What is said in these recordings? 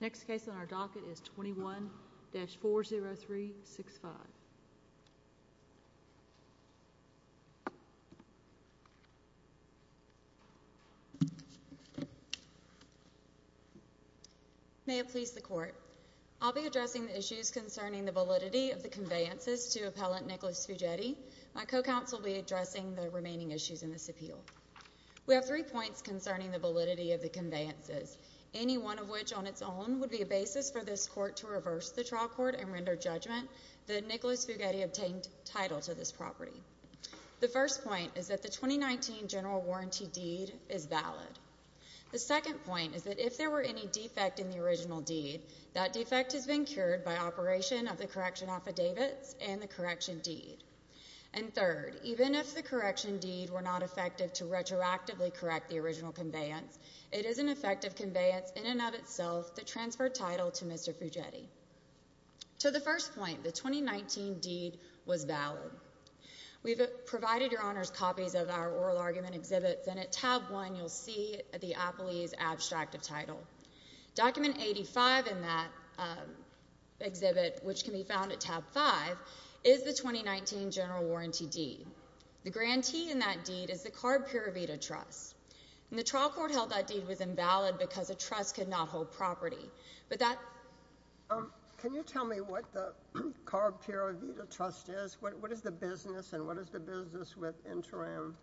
Next case on our docket is 21-40365. May it please the Court, I'll be addressing the issues concerning the validity of the conveyances to Appellant Nicholas Fugedi. My co-counsel will be addressing the remaining issues in this appeal. We have three points concerning the validity of the conveyances, any one of which on its own would be a basis for this Court to reverse the trial court and render judgment that Nicholas Fugedi obtained title to this property. The first point is that the 2019 general warranty deed is valid. The second point is that if there were any defect in the original deed, that defect has been cured by operation of the correction affidavits and the correction deed. And third, even if the correction deed were not effective to retroactively correct the original conveyance, it is an effective conveyance in and of itself to transfer title to Mr. Fugedi. To the first point, the 2019 deed was valid. We've provided your honors copies of our oral argument exhibits, and at tab one you'll see the appellee's abstract of title. Document 85 in that exhibit, which can be found at tab five, is the 2019 general warranty deed. The grantee in that deed is the CARB Pura Vida Trust, and the trial court held that deed was invalid because a trust could not hold property. But that... Um, can you tell me what the CARB Pura Vida Trust is? What is the business, and what is the business with Interim?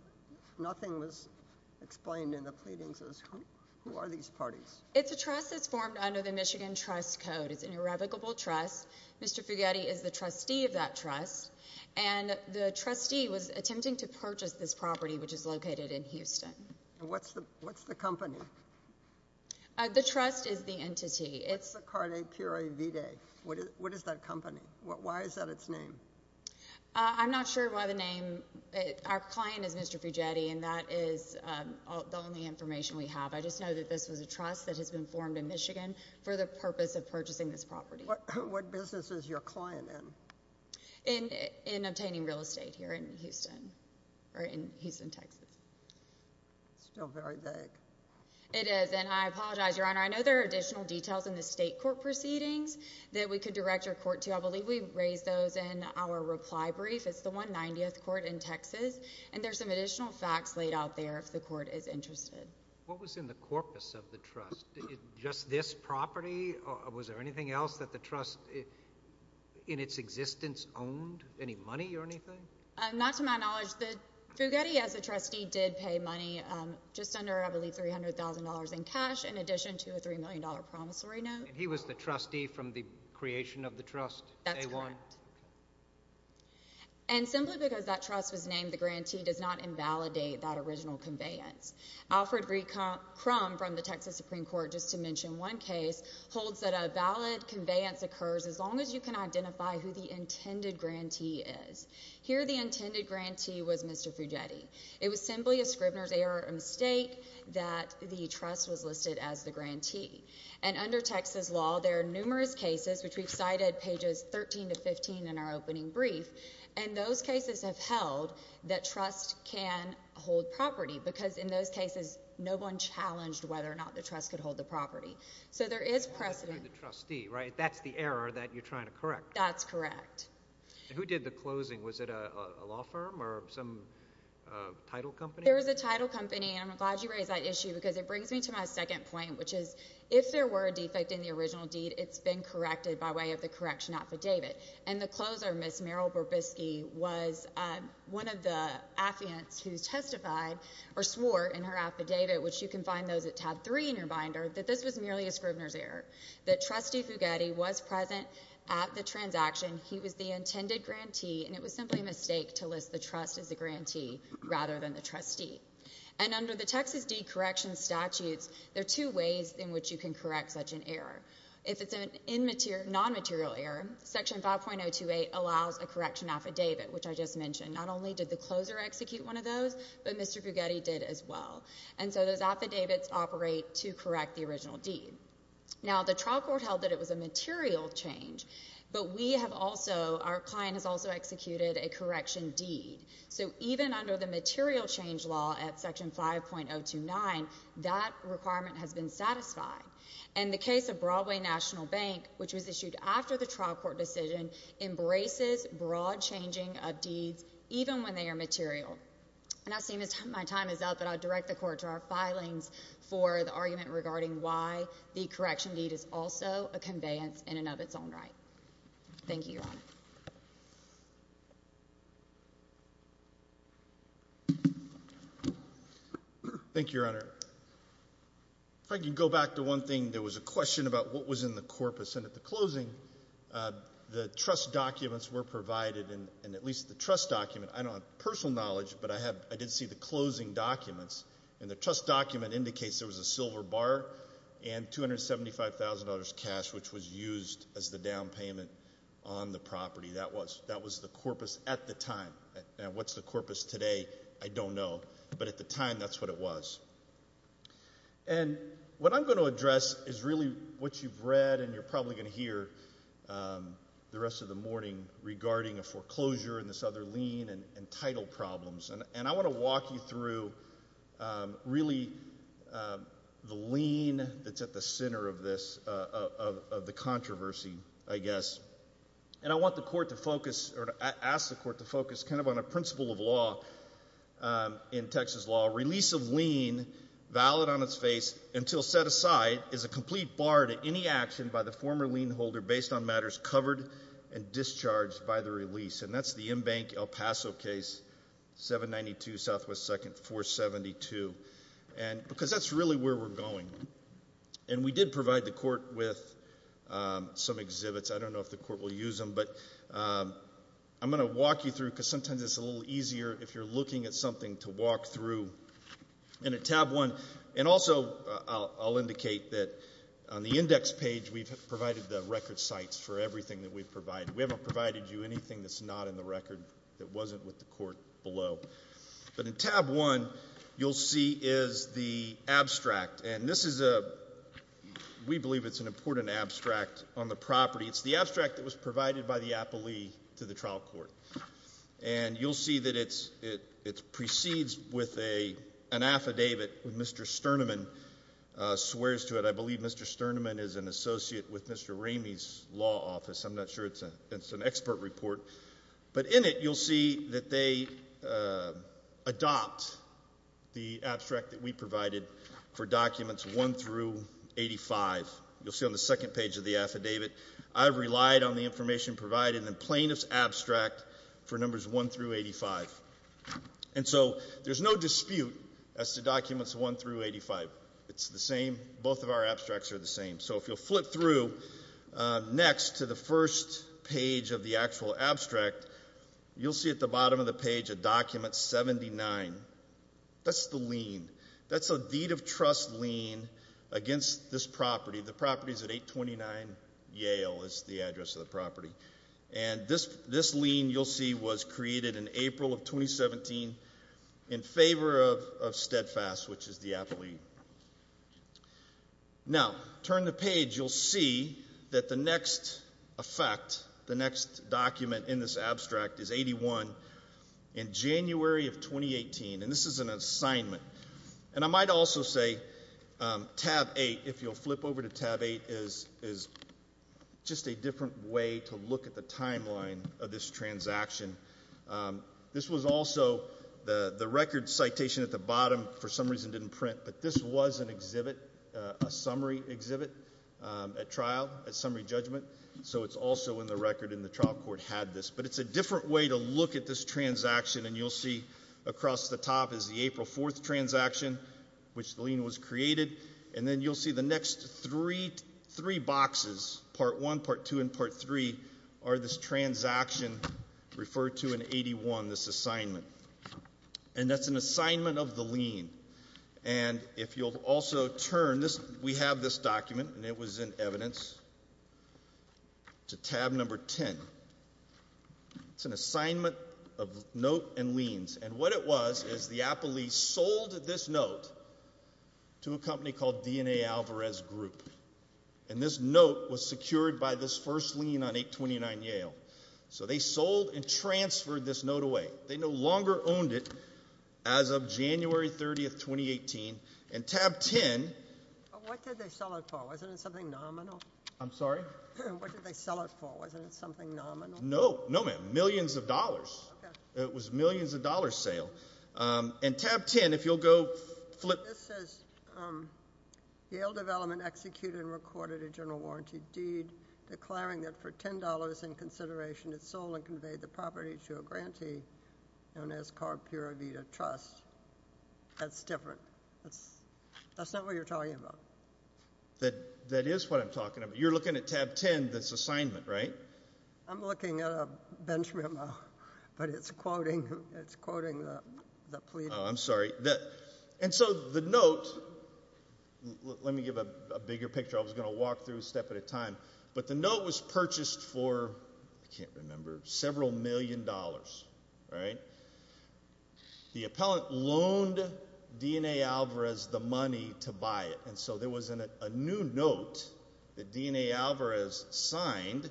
Nothing was explained in the pleadings as who are these parties. It's a trust that's formed under the Michigan Trust Code. It's an irrevocable trust. Mr. Fugedi is the trustee of that trust, and the trustee was attempting to purchase this property, which is located in Houston. And what's the... what's the company? The trust is the entity. What's the CARB Pura Vida? What is that company? Why is that its name? I'm not sure why the name... our client is Mr. Fugedi, and that is the only information we have. I just know that this was a trust that has been formed in Michigan for the purpose of purchasing this property. What business is your client in? In obtaining real estate here in Houston, or in Houston, Texas. It's still very vague. It is, and I apologize, Your Honor. I know there are additional details in the state court proceedings that we could direct your court to. I believe we raised those in our reply brief. It's the 190th court in Texas, and there's some additional facts laid out there if the court is interested. What was in the corpus of the trust? Just this property? Was there anything else that the trust, in its existence, owned? Any money or anything? Not to my knowledge. Fugedi, as a trustee, did pay money, just under, I believe, $300,000 in cash, in addition to a $3 million promissory note. He was the trustee from the creation of the trust? That's correct. And simply because that trust was named, the grantee does not invalidate that original conveyance. Alfred B. Crum, from the Texas Supreme Court, just to mention one case, holds that a valid conveyance occurs as long as you can identify who the intended grantee is. Here the intended grantee was Mr. Fugedi. It was simply a Scribner's error, a mistake, that the trust was listed as the grantee. And under Texas law, there are numerous cases, which we've cited, pages 13 to 15 in our opening brief. And those cases have held that trust can hold property, because in those cases, no one challenged whether or not the trust could hold the property. So there is precedent. That's the trustee, right? That's the error that you're trying to correct. That's correct. And who did the closing? Was it a law firm or some title company? It was a title company. And I'm glad you raised that issue, because it brings me to my second point, which is, if there were a defect in the original deed, it's been corrected by way of the correction affidavit. And the closer, Ms. Meryl Burbisky, was one of the affiants who testified, or swore in her affidavit, which you can find those at tab three in your binder, that this was merely a Scribner's error, that Trustee Fugedi was present at the transaction, he was the intended grantee, and it was simply a mistake to list the trust as the grantee rather than the trustee. And under the Texas Deed Correction Statutes, there are two ways in which you can correct such an error. If it's a non-material error, Section 5.028 allows a correction affidavit, which I just mentioned. Not only did the closer execute one of those, but Mr. Fugedi did as well. And so those affidavits operate to correct the original deed. Now the trial court held that it was a material change, but we have also, our client has also executed a correction deed. So even under the material change law at Section 5.029, that requirement has been satisfied. And the case of Broadway National Bank, which was issued after the trial court decision, embraces broad changing of deeds, even when they are material. And I see my time is up, and I'll direct the Court to our filings for the argument regarding why the correction deed is also a conveyance in and of its own right. Thank you, Your Honor. Thank you, Your Honor. If I could go back to one thing. There was a question about what was in the corpus, and at the closing, the trust documents were provided, and at least the trust document, I don't have personal knowledge, but I did see the closing documents, and the trust document indicates there was a silver bar and $275,000 cash which was used as the down payment on the property. That was the corpus at the time. What's the corpus today? I don't know. But at the time, that's what it was. And what I'm going to address is really what you've read, and you're probably going to hear the rest of the morning regarding a foreclosure and this other lien and title problems. And I want to walk you through really the lien that's at the center of this, of the controversy, I guess. And I want the court to focus, or ask the court to focus kind of on a principle of law in Texas law. Release of lien valid on its face until set aside is a complete bar to any action by the former lien holder based on matters covered and discharged by the release, and that's the in-bank El Paso case, 792 Southwest 2nd 472, because that's really where we're going. And we did provide the court with some exhibits. I don't know if the court will use them, but I'm going to walk you through, because sometimes it's a little easier if you're looking at something to walk through in a tab one. And also, I'll indicate that on the index page, we've provided the record sites for everything that we've provided. We haven't provided you anything that's not in the record, that wasn't with the court below. But in tab one, you'll see is the abstract. And this is a, we believe it's an important abstract on the property. It's the abstract that was provided by the appellee to the trial court. And you'll see that it precedes with an affidavit with Mr. Sternemann's swears to it. I believe Mr. Sternemann is an associate with Mr. Ramey's law office. I'm not sure. It's an expert report. But in it, you'll see that they adopt the abstract that we provided for documents one through 85. You'll see on the second page of the affidavit. I've relied on the information provided in the plaintiff's abstract for numbers one through 85. And so, there's no dispute as to documents one through 85. It's the same. Both of our abstracts are the same. So if you'll flip through next to the first page of the actual abstract, you'll see at the bottom of the page a document 79. That's the lien. That's a deed of trust lien against this property. The property is at 829 Yale is the address of the property. And this lien you'll see was created in April of 2017 in favor of Steadfast, which is the appellee. Now, turn the page. You'll see that the next effect, the next document in this abstract is 81 in January of 2018. And this is an assignment. And I might also say tab eight, if you'll flip over to tab eight, is just a different way to look at the timeline of this transaction. This was also the record citation at the bottom for some reason didn't print, but this was an exhibit, a summary exhibit at trial, a summary judgment. So it's also in the record and the trial court had this. But it's a different way to look at this transaction. And you'll see across the top is the April 4th transaction, which the lien was created. And then you'll see the next three, three boxes, part one, part two, and part three are this transaction referred to in 81, this assignment. And that's an assignment of the lien. And if you'll also turn this, we have this document and it was in evidence to tab number 10. It's an assignment of note and liens. And what it was is the Apple lease sold this note to a company called DNA Alvarez Group. And this note was secured by this first lien on 829 Yale. So they sold and transferred this note away. They no longer owned it as of January 30th, 2018. And tab 10. What did they sell it for? Wasn't it something nominal? I'm sorry? What did they sell it for? Wasn't it something nominal? No. No, ma'am. Millions of dollars. It was millions of dollars sale. And tab 10, if you'll go flip. This says, um, Yale Development executed and recorded a general warranty deed declaring that for $10 in consideration, it sold and conveyed the property to a grantee known as Carpura Vita Trust. That's different. That's not what you're talking about. That is what I'm talking about. You're looking at tab 10, this assignment, right? I'm looking at a bench memo, but it's quoting, it's quoting the plea. Oh, I'm sorry. And so the note, let me give a bigger picture, I was going to walk through a step at a time. But the note was purchased for, I can't remember, several million dollars, right? The appellant loaned DNA Alvarez the money to buy it. And so there was a new note that DNA Alvarez signed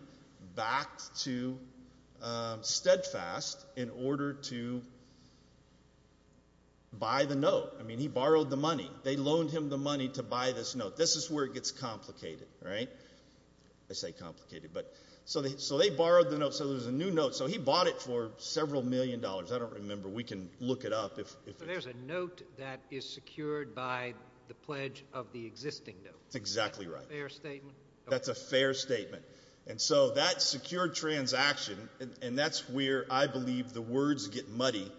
back to, um, Steadfast in order to buy the note. I mean, he borrowed the money. They loaned him the money to buy this note. This is where it gets complicated, right? I say complicated, but so they, so they borrowed the note. So there's a new note. So he bought it for several million dollars. I don't remember. We can look it up. So there's a note that is secured by the pledge of the existing note. That's exactly right. Fair statement? That's a fair statement. And so that secured transaction, and that's where I believe the words get muddy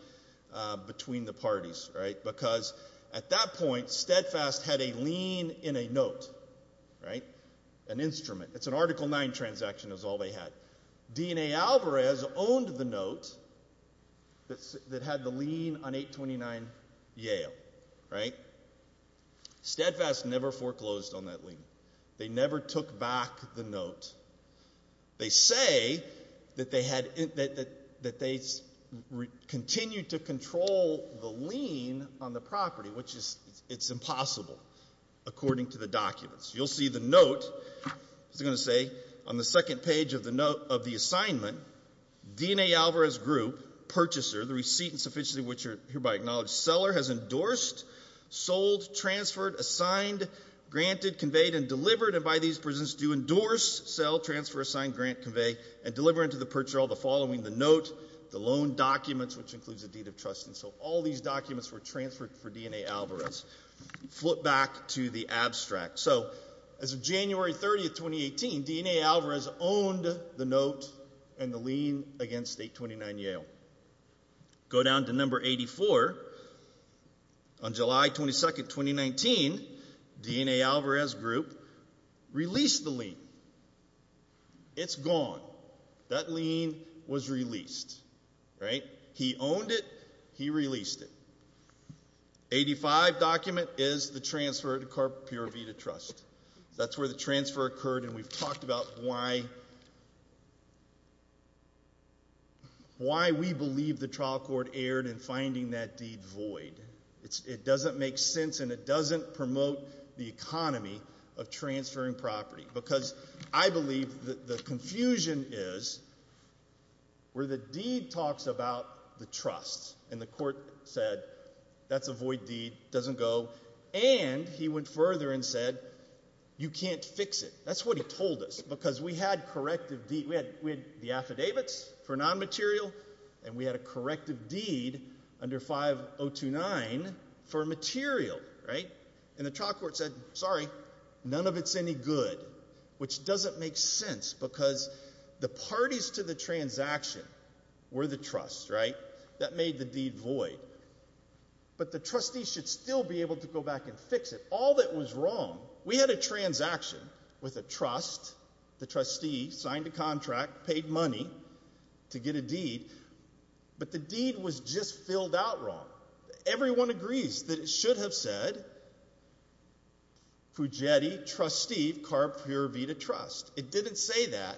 between the parties, right? Because at that point, Steadfast had a lien in a note, right? An instrument. It's an article nine transaction is all they had. DNA Alvarez owned the note that had the lien on 829 Yale, right? Steadfast never foreclosed on that lien. They never took back the note. They say that they had, that they continued to control the lien on the property, which is, it's impossible according to the documents. You'll see the note, it's going to say on the second page of the note of the assignment, DNA Alvarez group purchaser, the receipt and sufficiency of which are hereby acknowledged. Seller has endorsed, sold, transferred, assigned, granted, conveyed, and delivered, and by these persons do endorse, sell, transfer, assign, grant, convey, and deliver into the purchaser all the following. The note, the loan documents, which includes a deed of trust, and so all these documents were transferred for DNA Alvarez. Flip back to the abstract. So as of January 30th, 2018, DNA Alvarez owned the note and the lien against 829 Yale. Go down to number 84. On July 22nd, 2019, DNA Alvarez group released the lien. It's gone. That lien was released, right? He owned it. He released it. 85 document is the transfer to Carpura Vida Trust. That's where the transfer occurred, and we've talked about why we believe the trial court erred in finding that deed void. It doesn't make sense, and it doesn't promote the economy of transferring property, because I believe that the confusion is where the deed talks about the trust, and the court said that's a void deed, doesn't go, and he went further and said, you can't fix it. That's what he told us, because we had corrective deed, we had the affidavits for non-material, and we had a corrective deed under 5029 for material, right? And the trial court said, sorry, none of it's any good, which doesn't make sense, because the parties to the transaction were the trust, right? That made the deed void. But the trustee should still be able to go back and fix it. All that was wrong, we had a transaction with a trust, the trustee signed a contract, paid money to get a deed, but the deed was just filled out wrong. Everyone agrees that it should have said, Pugetti, trustee, CARP, Pura Vida, trust. It didn't say that,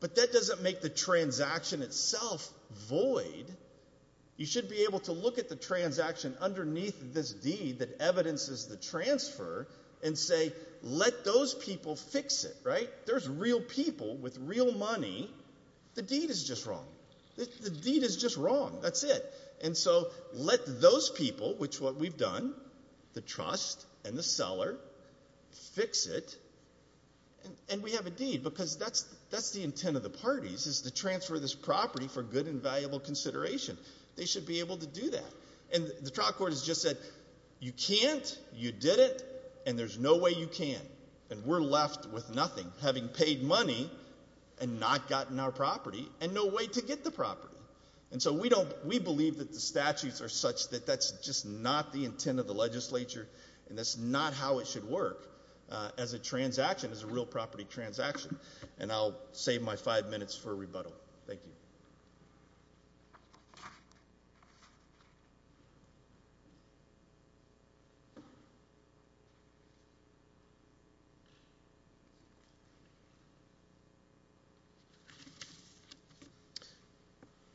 but that doesn't make the transaction itself void. You should be able to look at the transaction underneath this deed that evidences the transfer and say, let those people fix it, right? There's real people with real money, the deed is just wrong. The deed is just wrong, that's it. And so let those people, which is what we've done, the trust and the seller, fix it, and we have a deed, because that's the intent of the parties, is to transfer this property for good and valuable consideration. They should be able to do that. And the trial court has just said, you can't, you didn't, and there's no way you can. And we're left with nothing, having paid money and not gotten our property, and no way to get the property. And so we don't, we believe that the statutes are such that that's just not the intent of the legislature, and that's not how it should work as a transaction, as a real property transaction. And I'll save my five minutes for rebuttal. Thank you.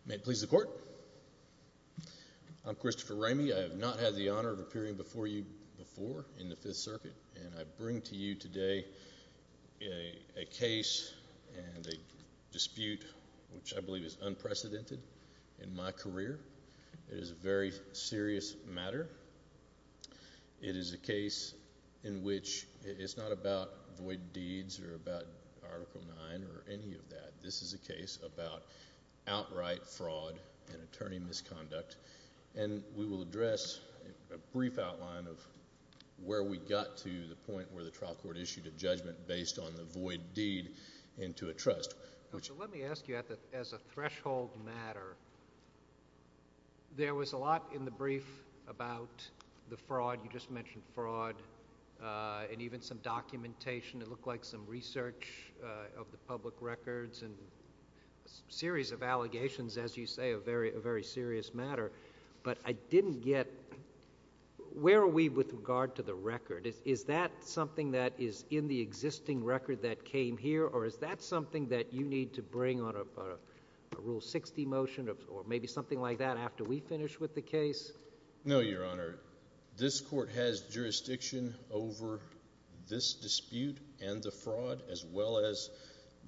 May it please the court. I'm Christopher Ramey. I have not had the honor of appearing before you before in the Fifth Circuit, and I bring to you today a case and a dispute which I believe is unprecedented in my career. It is a very serious matter. It is a case in which it's not about void deeds or about Article 9 or any of that. This is a case about outright fraud and attorney misconduct. And we will address a brief outline of where we got to the point where the trial court issued a judgment based on the void deed into a trust. Let me ask you, as a threshold matter, there was a lot in the brief about the fraud. You just mentioned fraud, and even some documentation. It looked like some research of the public records and a series of allegations, as you say, a very serious matter. But I didn't get, where are we with regard to the record? Is that something that is in the existing record that came here, or is that something that you need to bring on a Rule 60 motion or maybe something like that after we finish with the case? No, Your Honor. This court has jurisdiction over this dispute and the fraud as well as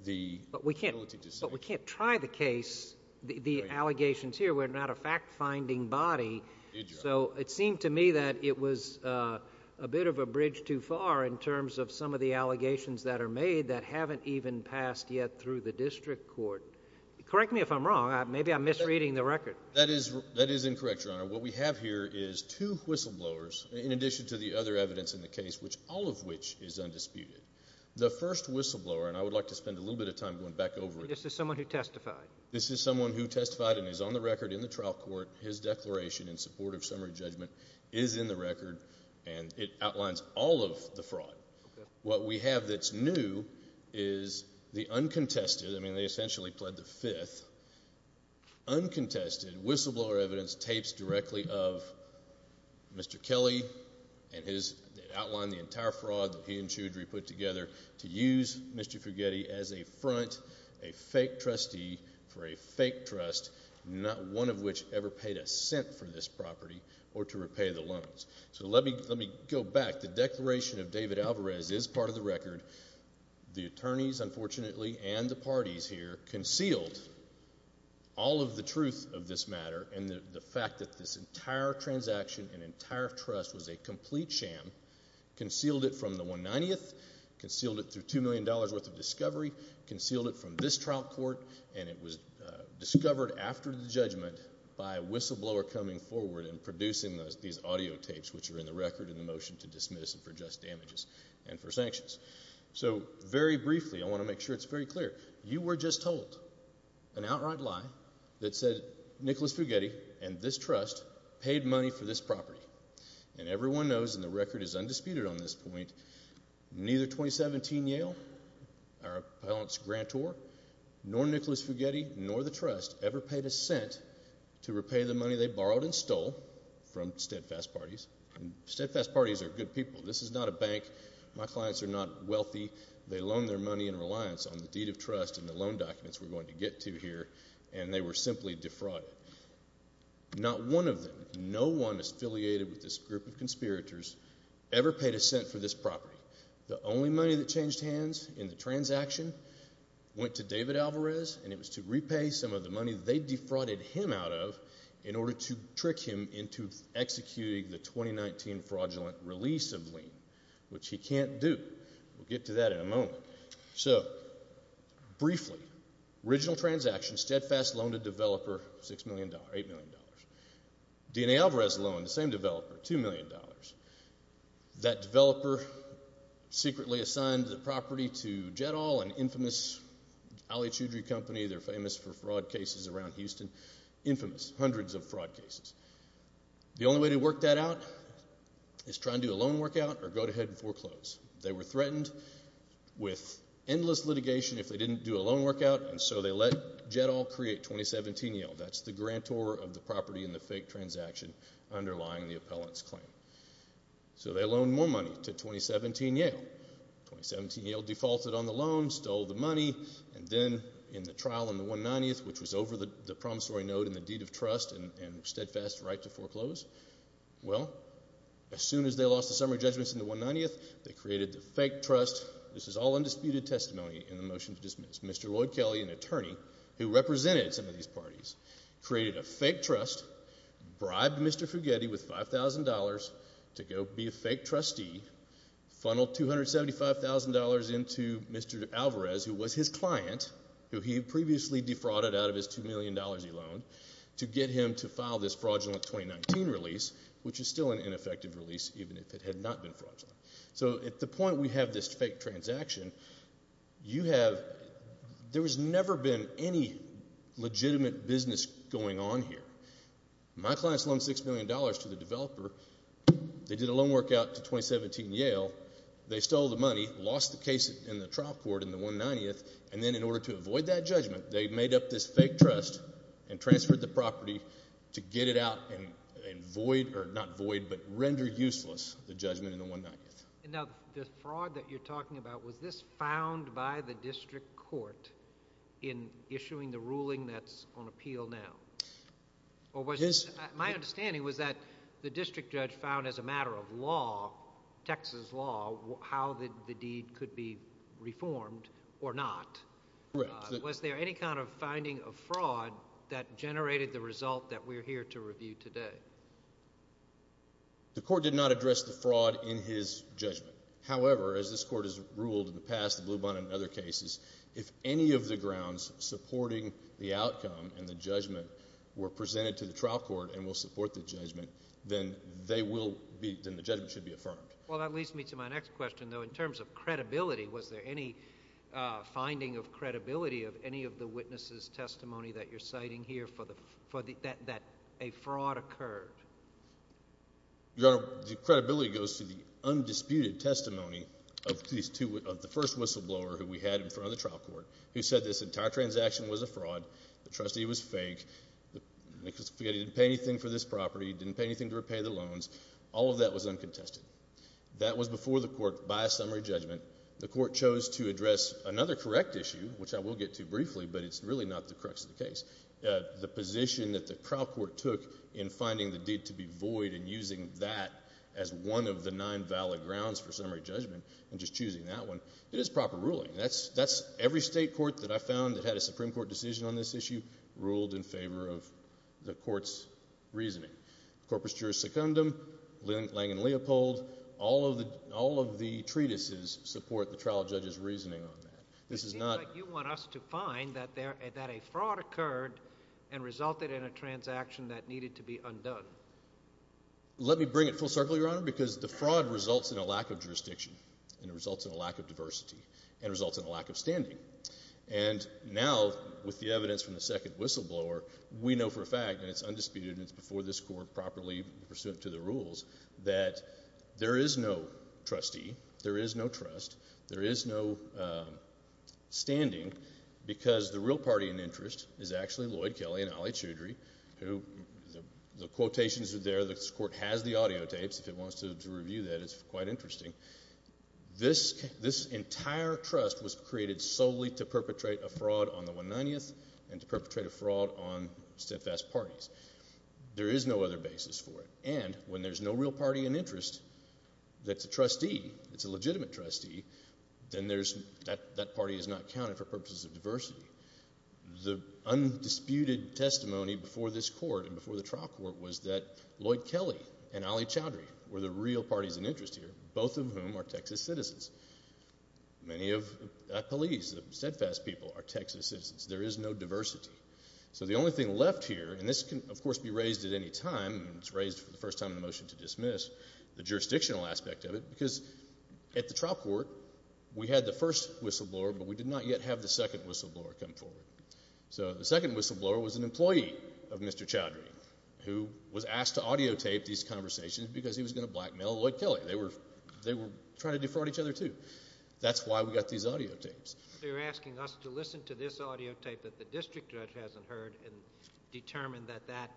the ability to say it. But we can't try the case, the allegations here. We're not a fact-finding body. So it seemed to me that it was a bit of a bridge too far in terms of some of the allegations that are made that haven't even passed yet through the district court. Correct me if I'm wrong. Maybe I'm misreading the record. That is incorrect, Your Honor. What we have here is two whistleblowers in addition to the other evidence in the case, all of which is undisputed. The first whistleblower, and I would like to spend a little bit of time going back over it. This is someone who testified. This is someone who testified and is on the record in the trial court. His declaration in support of summary judgment is in the record, and it outlines all of the fraud. What we have that's new is the uncontested, I mean they essentially pled the fifth, uncontested whistleblower evidence tapes directly of Mr. Kelly and his outline, the entire fraud that he and Choudhury put together to use Mr. Fugetti as a front, a fake trustee for a fake trust, not one of which ever paid a cent for this property or to repay the loans. So let me go back. The declaration of David Alvarez is part of the record. The attorneys, unfortunately, and the parties here concealed all of the truth of this matter and the fact that this entire transaction and entire trust was a complete sham, concealed it from the 190th, concealed it through $2 million worth of discovery, concealed it from this trial court, and it was discovered after the judgment by a whistleblower coming forward and producing these audio tapes, which are in the record in the motion to dismiss for just damages and for sanctions. So very briefly, I want to make sure it's very clear, you were just told an outright lie that said Nicholas Fugetti and this trust paid money for this property. And everyone knows, and the record is undisputed on this point, neither 2017 Yale, our appellant's grantor, nor Nicholas Fugetti, nor the trust ever paid a cent to repay the money they borrowed and stole from steadfast parties. And steadfast parties are good people. This is not a bank. My clients are not wealthy. They loan their money in reliance on the deed of trust and the loan documents we're going to get to here, and they were simply defrauded. Not one of them, no one affiliated with this group of conspirators ever paid a cent for this property. The only money that changed hands in the transaction went to David Alvarez, and it was to repay some of the money they defrauded him out of in order to trick him into executing the 2019 fraudulent release of lien, which he can't do. We'll get to that in a moment. So briefly, original transaction, steadfast loan to developer, $6 million, $8 million. DNA Alvarez loan, the same developer, $2 million. That developer secretly assigned the property to Jettall, an infamous alitudory company. They're famous for fraud cases around Houston, infamous, hundreds of fraud cases. The only way to work that out is try and do a loan workout or go ahead and foreclose. They were threatened with endless litigation if they didn't do a loan workout, and so they let Jettall create 2017 Yale. That's the grantor of the property in the fake transaction underlying the appellant's claim. So they loaned more money to 2017 Yale. 2017 Yale defaulted on the loan, stole the money, and then in the trial on the 190th, which was over the promissory note and the deed of trust and steadfast right to foreclose, well, as soon as they lost the summary judgments in the 190th, they created the fake trust. This is all undisputed testimony in the motion to dismiss. Mr. Lloyd Kelly, an attorney who represented some of these parties, created a fake trust, bribed Mr. Fugetti with $5,000 to go be a fake trustee, funneled $275,000 into Mr. Alvarez, who was his client, who he had previously defrauded out of his $2 million he loaned, to get him to file this fraudulent 2019 release, which is still an ineffective release even if it had not been fraudulent. So at the point we have this fake transaction, you have—there has never been any legitimate business going on here. My clients loaned $6 million to the developer. They did a loan workout to 2017 Yale. They stole the money, lost the case in the trial court in the 190th, and then in order to avoid that judgment, they made up this fake trust and transferred the property to get it out and void—or not void, but render useless the judgment in the 190th. Now, the fraud that you're talking about, was this found by the district court in issuing the ruling that's on appeal now? Or was—my understanding was that the district judge found as a matter of law, Texas law, how the deed could be reformed or not. Correct. Was there any kind of finding of fraud that generated the result that we're here to review today? The court did not address the fraud in his judgment. However, as this court has ruled in the past, the Blue Bond and other cases, if any of the were presented to the trial court and will support the judgment, then they will be—then the judgment should be affirmed. Well, that leads me to my next question, though. In terms of credibility, was there any finding of credibility of any of the witnesses' testimony that you're citing here for the—that a fraud occurred? Your Honor, the credibility goes to the undisputed testimony of these two—of the first whistleblower who we had in front of the trial court, who said this entire transaction was a fraud, the trustee was fake, the—I forget, he didn't pay anything for this property, he didn't pay anything to repay the loans. All of that was uncontested. That was before the court by a summary judgment. The court chose to address another correct issue, which I will get to briefly, but it's really not the crux of the case. The position that the trial court took in finding the deed to be void and using that as one of the nine valid grounds for summary judgment and just choosing that one, it is proper ruling. That's—every state court that I found that had a Supreme Court decision on this issue ruled in favor of the court's reasoning. Corpus Juris Secundum, Lange and Leopold, all of the treatises support the trial judge's reasoning on that. This is not— It seems like you want us to find that a fraud occurred and resulted in a transaction that needed to be undone. Let me bring it full circle, Your Honor, because the fraud results in a lack of jurisdiction and it results in a lack of diversity and it results in a lack of standing. And now, with the evidence from the second whistleblower, we know for a fact, and it's undisputed and it's before this court properly pursuant to the rules, that there is no trustee, there is no trust, there is no standing, because the real party in interest is actually Lloyd Kelly and Ali Choudhury, who—the quotations are there, this court has the audiotapes. If it wants to review that, it's quite interesting. This entire trust was created solely to perpetrate a fraud on the 190th and to perpetrate a fraud on steadfast parties. There is no other basis for it. And when there's no real party in interest that's a trustee, it's a legitimate trustee, then that party is not counted for purposes of diversity. The undisputed testimony before this court and before the trial court was that Lloyd and Ali were the real parties in interest here, both of whom are Texas citizens. Many of the police, the steadfast people, are Texas citizens. There is no diversity. So the only thing left here, and this can, of course, be raised at any time, it's raised for the first time in the motion to dismiss, the jurisdictional aspect of it, because at the trial court we had the first whistleblower, but we did not yet have the second whistleblower come forward. So the second whistleblower was an employee of Mr. Choudhury, who was asked to audiotape these conversations because he was going to blackmail Lloyd Kelly. They were trying to defraud each other, too. That's why we got these audiotapes. So you're asking us to listen to this audiotape that the district judge hasn't heard and determine that that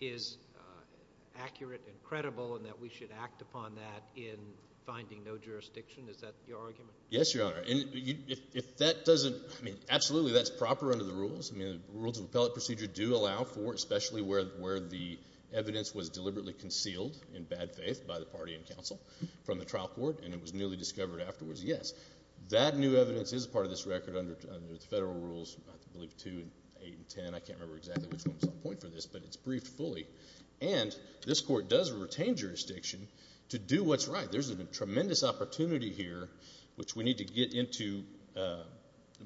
is accurate and credible and that we should act upon that in finding no jurisdiction? Is that your argument? Yes, Your Honor. And if that doesn't, I mean, absolutely, that's proper under the rules. I mean, the rules of appellate procedure do allow for, especially where the evidence was deliberately concealed in bad faith by the party and counsel from the trial court and it was newly discovered afterwards, yes, that new evidence is part of this record under the federal rules, I believe, 2 and 8 and 10. I can't remember exactly which one was on point for this, but it's briefed fully. And this court does retain jurisdiction to do what's right. There's a tremendous opportunity here, which we need to get into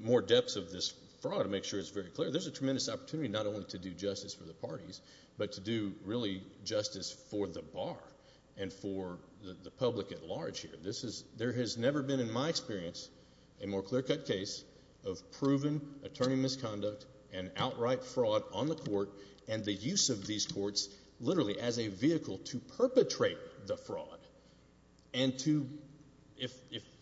more depths of this fraud to make sure it's very clear. There's a tremendous opportunity not only to do justice for the parties, but to do really justice for the bar and for the public at large here. There has never been, in my experience, a more clear-cut case of proven attorney misconduct and outright fraud on the court and the use of these courts literally as a vehicle to perpetrate the fraud. And if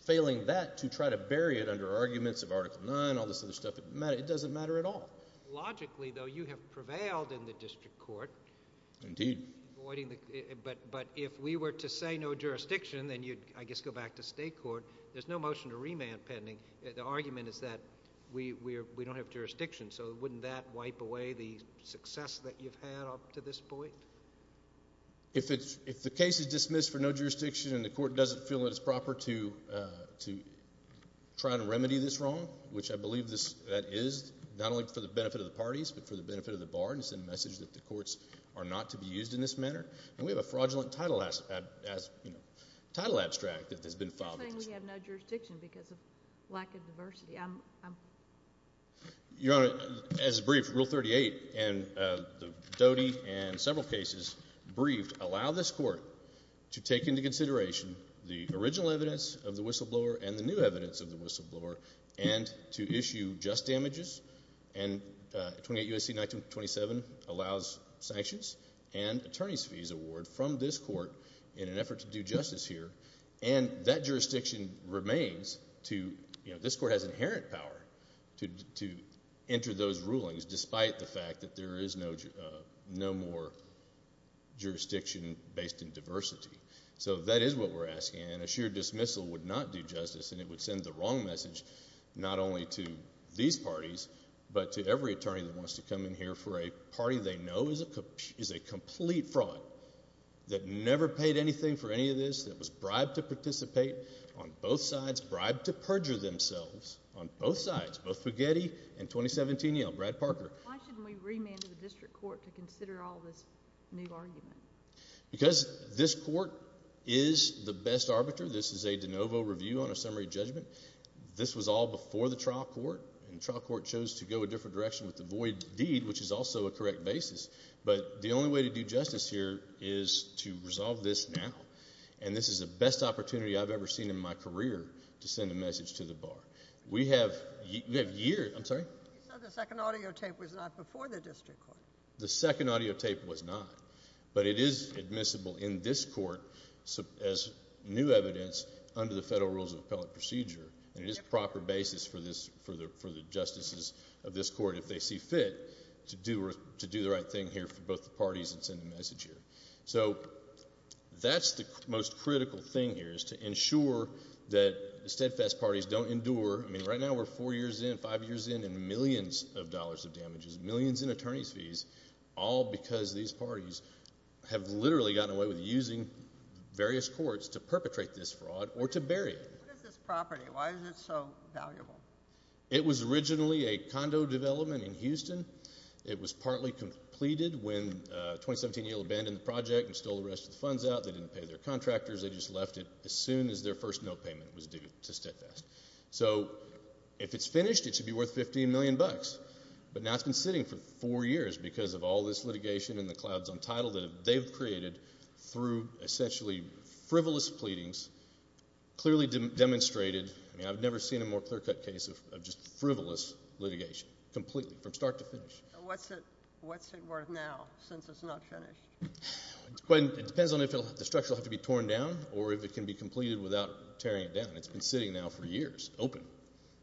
failing that, to try to bury it under arguments of Article 9, all this other stuff, it doesn't matter at all. Logically, though, you have prevailed in the district court. Indeed. But if we were to say no jurisdiction, then you'd, I guess, go back to state court. There's no motion to remand pending. The argument is that we don't have jurisdiction. So wouldn't that wipe away the success that you've had up to this point? If the case is dismissed for no jurisdiction and the court doesn't feel that it's proper to try to remedy this wrong, which I believe that is not only for the benefit of the parties, but for the benefit of the bar and to send a message that the courts are not to be used in this manner. And we have a fraudulent title abstract that has been filed against us. You're saying we have no jurisdiction because of lack of diversity. Your Honor, as briefed, Rule 38 and the Doty and several cases briefed allow this court to take into consideration the original evidence of the whistleblower and the new evidence of the whistleblower and to issue just damages. And 28 U.S.C. 1927 allows sanctions and attorney's fees award from this court in an effort to do justice here. And that jurisdiction remains to, you know, this court has inherent power to enter those So that is what we're asking and a sheer dismissal would not do justice and it would send the wrong message not only to these parties, but to every attorney that wants to come in here for a party they know is a complete fraud that never paid anything for any of this, that was bribed to participate on both sides, bribed to perjure themselves on both sides, both Fugetti and 2017 Yale, Brad Parker. Why shouldn't we remand the district court to consider all this new argument? Because this court is the best arbiter. This is a de novo review on a summary judgment. This was all before the trial court and the trial court chose to go a different direction with the void deed, which is also a correct basis. But the only way to do justice here is to resolve this now. And this is the best opportunity I've ever seen in my career to send a message to the bar. We have years, I'm sorry. You said the second audio tape was not before the district court. The second audio tape was not, but it is admissible in this court as new evidence under the Federal Rules of Appellate Procedure and it is a proper basis for this, for the justices of this court if they see fit to do the right thing here for both the parties and send a message here. So that's the most critical thing here is to ensure that the steadfast parties don't endure. I mean, right now we're four years in, five years in and millions of dollars of damages, millions in attorney's fees, all because these parties have literally gotten away with using various courts to perpetrate this fraud or to bury it. What is this property? Why is it so valuable? It was originally a condo development in Houston. It was partly completed when 2017 Abandoned the project and stole the rest of the funds out. They didn't pay their contractors. They just left it as soon as their first no payment was due to steadfast. So if it's finished, it should be worth 15 million bucks. But now it's been sitting for four years because of all this litigation and the clouds on title that they've created through essentially frivolous pleadings, clearly demonstrated, I mean I've never seen a more clear cut case of just frivolous litigation, completely, from start to finish. What's it worth now since it's not finished? It depends on if the structure will have to be torn down or if it can be completed without tearing it down. It's been sitting now for years, open.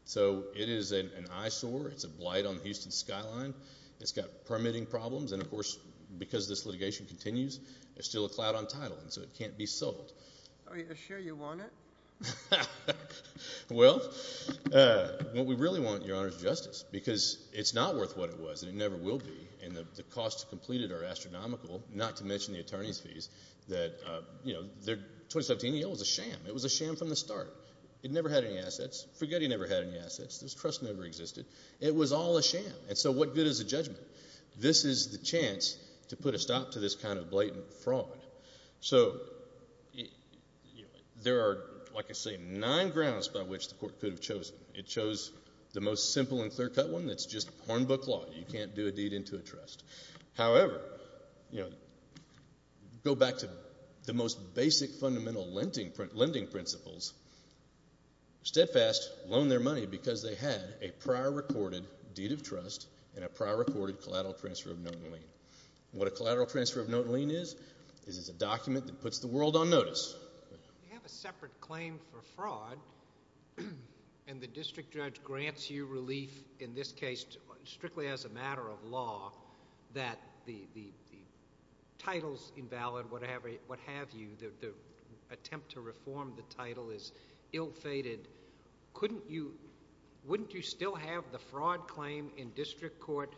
So it is an eyesore. It's a blight on the Houston skyline. It's got permitting problems and of course, because this litigation continues, there's still a cloud on title and so it can't be sold. Are you sure you want it? Well, what we really want, Your Honor, is justice because it's not worth what it was and it never will be. And the costs to complete it are astronomical, not to mention the attorney's fees that, you know, 2017, it was a sham. It was a sham from the start. It never had any assets. Forget he never had any assets. This trust never existed. It was all a sham. And so what good is a judgment? This is the chance to put a stop to this kind of blatant fraud. So there are, like I say, nine grounds by which the court could have chosen. It chose the most simple and clear cut one. It's just hornbook law. You can't do a deed into a trust. However, you know, go back to the most basic fundamental lending principles, steadfast loan their money because they had a prior recorded deed of trust and a prior recorded collateral transfer of note and lien. What a collateral transfer of note and lien is, is it's a document that puts the world on notice. You have a separate claim for fraud and the district judge grants you relief in this case strictly as a matter of law that the, the, the titles invalid, whatever, what have you, the attempt to reform the title is ill-fated. Couldn't you, wouldn't you still have the fraud claim in district court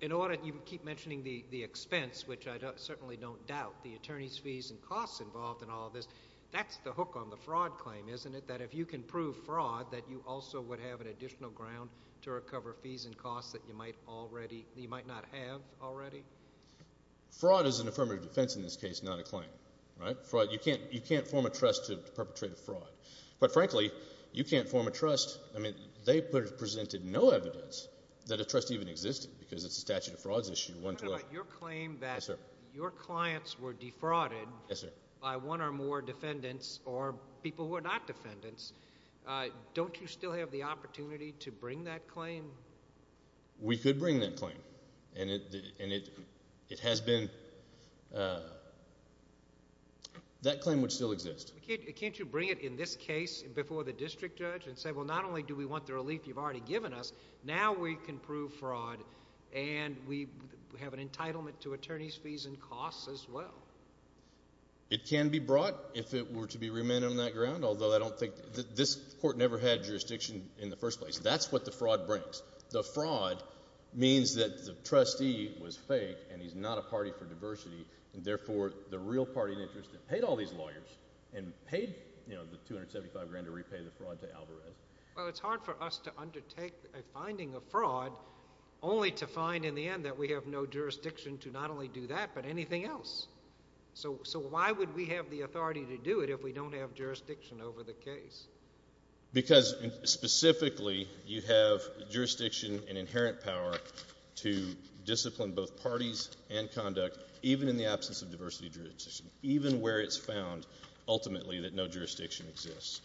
in order, you keep mentioning the, the expense, which I certainly don't doubt the attorney's fees and costs involved in all of this. That's the hook on the fraud claim, isn't it? That if you can prove fraud, that you also would have an additional ground to recover fees and costs that you might already, you might not have already. Fraud is an affirmative defense in this case, not a claim, right? Fraud, you can't, you can't form a trust to perpetrate a fraud, but frankly, you can't form a trust. I mean, they presented no evidence that a trust even existed because it's a statute of frauds issue. Your claim that your clients were defrauded by one or more defendants or people who are not defendants, don't you still have the opportunity to bring that claim? We could bring that claim and it, and it, it has been, that claim would still exist. Can't you bring it in this case before the district judge and say, well, not only do we want the relief you've already given us, now we can prove fraud and we have an entitlement to attorney's fees and costs as well. It can be brought if it were to be remanded on that ground, although I don't think, this court never had jurisdiction in the first place. That's what the fraud brings. The fraud means that the trustee was fake and he's not a party for diversity and therefore the real party in interest that paid all these lawyers and paid, you know, the $275,000 to repay the fraud to Alvarez. Well, it's hard for us to undertake a finding of fraud only to find in the end that we have no jurisdiction to not only do that, but anything else. So why would we have the authority to do it if we don't have jurisdiction over the case? Because specifically you have jurisdiction and inherent power to discipline both parties and conduct, even in the absence of diversity jurisdiction, even where it's found ultimately that no jurisdiction exists.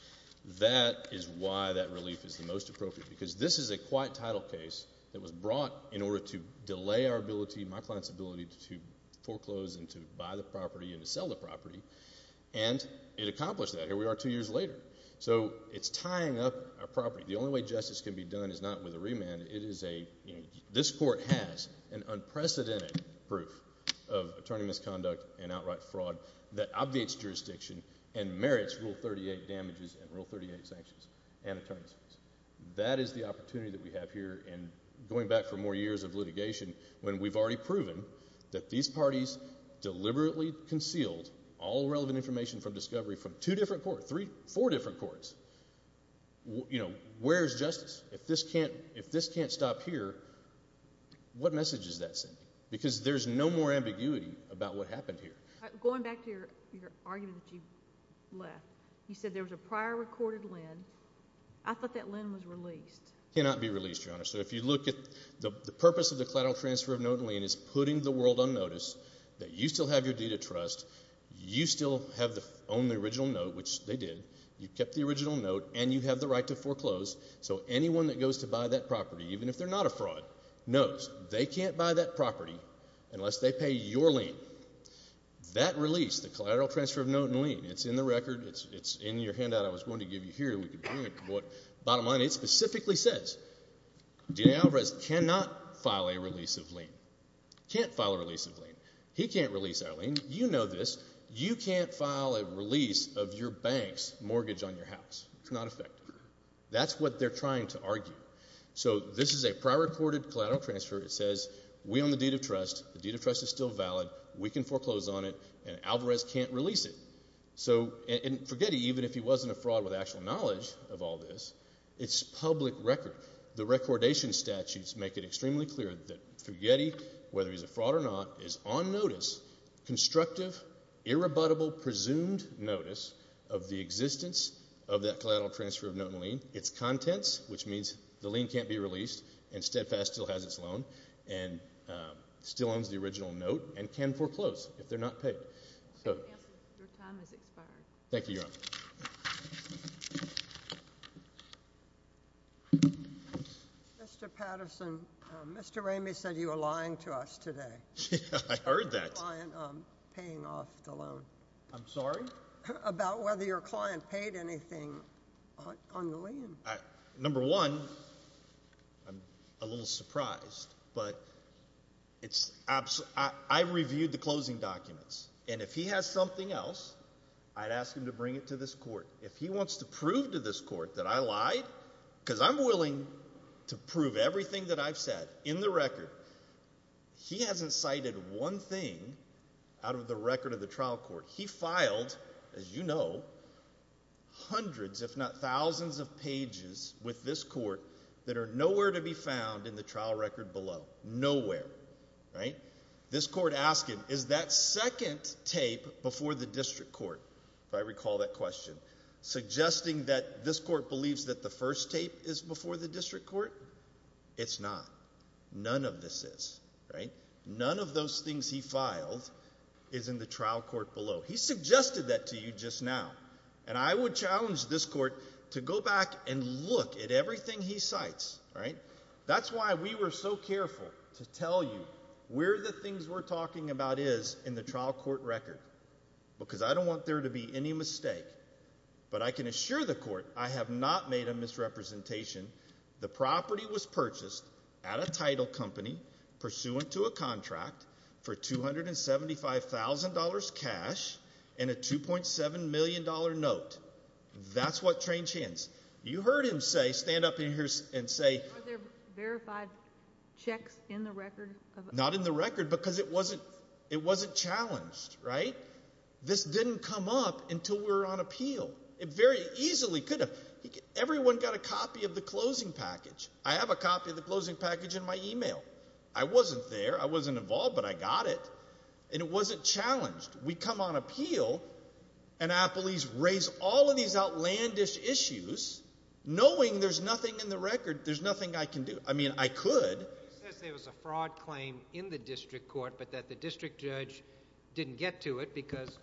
That is why that relief is the most appropriate, because this is a quiet title case that was client's ability to foreclose and to buy the property and to sell the property, and it accomplished that. Here we are two years later. So, it's tying up our property. The only way justice can be done is not with a remand, it is a, you know, this court has an unprecedented proof of attorney misconduct and outright fraud that obviates jurisdiction and merits Rule 38 damages and Rule 38 sanctions and attorneys. That is the opportunity that we have here and going back for more years of litigation when we've already proven that these parties deliberately concealed all relevant information from discovery from two different courts, three, four different courts. You know, where's justice? If this can't, if this can't stop here, what message is that sending? Because there's no more ambiguity about what happened here. Going back to your argument that you left, you said there was a prior recorded LEND. I thought that LEND was released. Cannot be released, Your Honor. So, if you look at the purpose of the collateral transfer of note and LEND is putting the world on notice that you still have your deed of trust, you still have the, own the original note, which they did, you kept the original note, and you have the right to foreclose, so anyone that goes to buy that property, even if they're not a fraud, knows they can't buy that property unless they pay your LEND. That release, the collateral transfer of note and LEND, it's in the record, it's in your handout I was going to give you here. We can print what, bottom line, it specifically says, DNA Alvarez cannot file a release of LEND. Can't file a release of LEND. He can't release our LEND. You know this. You can't file a release of your bank's mortgage on your house. It's not effective. That's what they're trying to argue. So this is a prior recorded collateral transfer. It says, we own the deed of trust, the deed of trust is still valid, we can foreclose on it, and Alvarez can't release it. So, and Fugetti, even if he wasn't a fraud with actual knowledge of all this, it's public record. The recordation statutes make it extremely clear that Fugetti, whether he's a fraud or not, is on notice, constructive, irrebuttable, presumed notice of the existence of that collateral transfer of note and LEND, its contents, which means the LEND can't be released, and Steadfast still has its loan, and still owns the original note, and can foreclose if they're not paid. Your time has expired. Thank you, Your Honor. Mr. Patterson, Mr. Ramey said you were lying to us today. Yeah, I heard that. About your client paying off the loan. I'm sorry? About whether your client paid anything on the lien. Number one, I'm a little surprised, but I reviewed the closing documents, and if he has something else, I'd ask him to bring it to this court. If he wants to prove to this court that I lied, because I'm willing to prove everything that I've said in the record, he hasn't cited one thing out of the record of the trial court. He filed, as you know, hundreds if not thousands of pages with this court that are nowhere to be found in the trial record below. Nowhere. This court asked him, is that second tape before the district court, if I recall that question, suggesting that this court believes that the first tape is before the district court? It's not. None of this is. None of those things he filed is in the trial court below. He suggested that to you just now, and I would challenge this court to go back and look at everything he cites. That's why we were so careful to tell you where the things we're talking about is in the trial court record, because I don't want there to be any mistake, but I can assure the court I have not made a misrepresentation. The property was purchased at a title company pursuant to a contract for $275,000 cash and a $2.7 million note. That's what Trange hints. You heard him say, stand up in here and say... Are there verified checks in the record? Not in the record, because it wasn't challenged, right? This didn't come up until we were on appeal. It very easily could have. Everyone got a copy of the closing package. I have a copy of the closing package in my email. I wasn't there. I wasn't involved, but I got it, and it wasn't challenged. We come on appeal, and our police raise all of these outlandish issues knowing there's nothing in the record. There's nothing I can do. I mean, I could. He says there was a fraud claim in the district court, but that the district judge didn't get to it because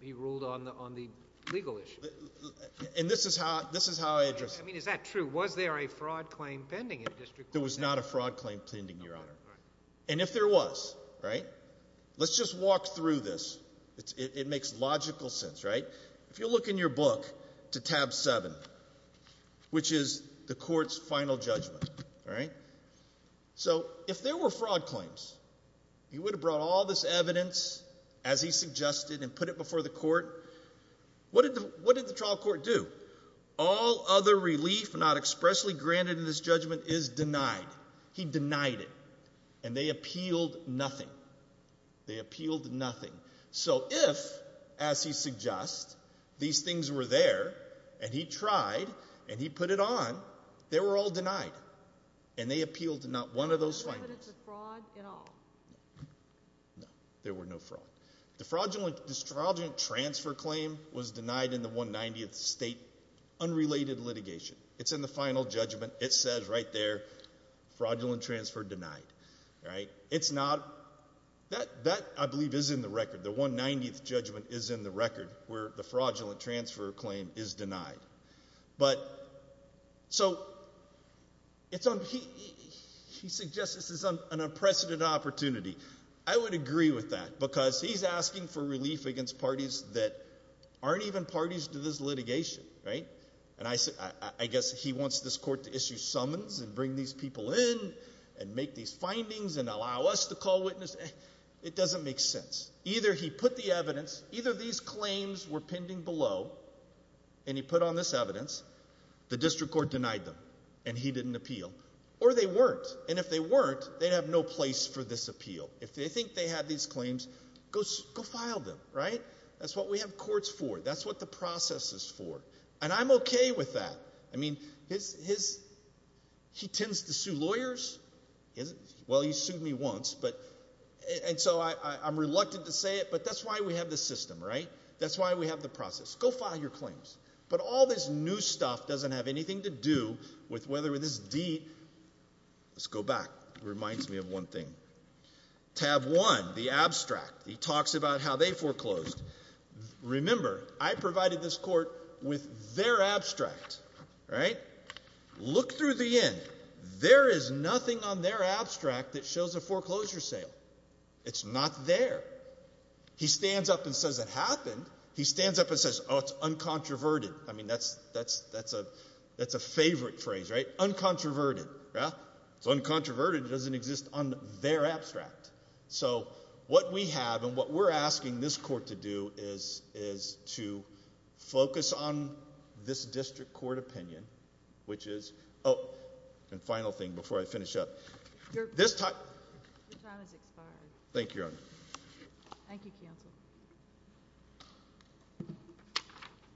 he ruled on the legal issue. And this is how I address it. I mean, is that true? Was there a fraud claim pending in the district court? There was not a fraud claim pending, Your Honor. And if there was, right? Let's just walk through this. It makes logical sense, right? If you look in your book to tab 7, which is the court's final judgment, right? So, if there were fraud claims, you would have brought all this evidence, as he suggested, and put it before the court. What did the trial court do? All other relief not expressly granted in this judgment is denied. He denied it. And they appealed nothing. They appealed nothing. So, if, as he suggests, these things were there, and he tried, and he put it on, they were all denied. And they appealed to not one of those findings. No evidence of fraud at all? No. There were no fraud. The fraudulent transfer claim was denied in the 190th state unrelated litigation. It's in the final judgment. It says right there, fraudulent transfer denied. Right? It's not. That, I believe, is in the record. The 190th judgment is in the record where the fraudulent transfer claim is denied. But, so, he suggests this is an unprecedented opportunity. I would agree with that. Because he's asking for relief against parties that aren't even parties to this litigation. Right? And I guess he wants this court to issue summons, and bring these people in, and make these findings, and allow us to call witness. It doesn't make sense. Either he put the evidence, either these claims were pending below, and he put on this evidence, the district court denied them. And he didn't appeal. Or they weren't. And if they weren't, they'd have no place for this appeal. If they think they have these claims, go file them. Right? That's what we have courts for. That's what the process is for. And I'm okay with that. I mean, he tends to sue lawyers. Well, he sued me once. And so, I'm reluctant to say it, but that's why we have this system. Right? That's why we have the process. Go file your claims. But all this new stuff doesn't have anything to do with whether this deed Let's go back. Reminds me of one thing. Tab 1, the abstract. He talks about how they foreclosed. Remember, I provided this court with their abstract. Right? Look through the end. There is nothing on their abstract that shows a foreclosure sale. It's not there. He stands up and says it happened. He stands up and says, oh, it's uncontroverted. I mean, that's a favorite phrase. Right? Uncontroverted. Yeah? It's uncontroverted. It doesn't exist on their abstract. So, what we have and what we're asking this court to do is to focus on this district court opinion, which is, oh, and final thing before I finish up. Your time has expired. Thank you, Your Honor. Thank you, Counsel. Thank you.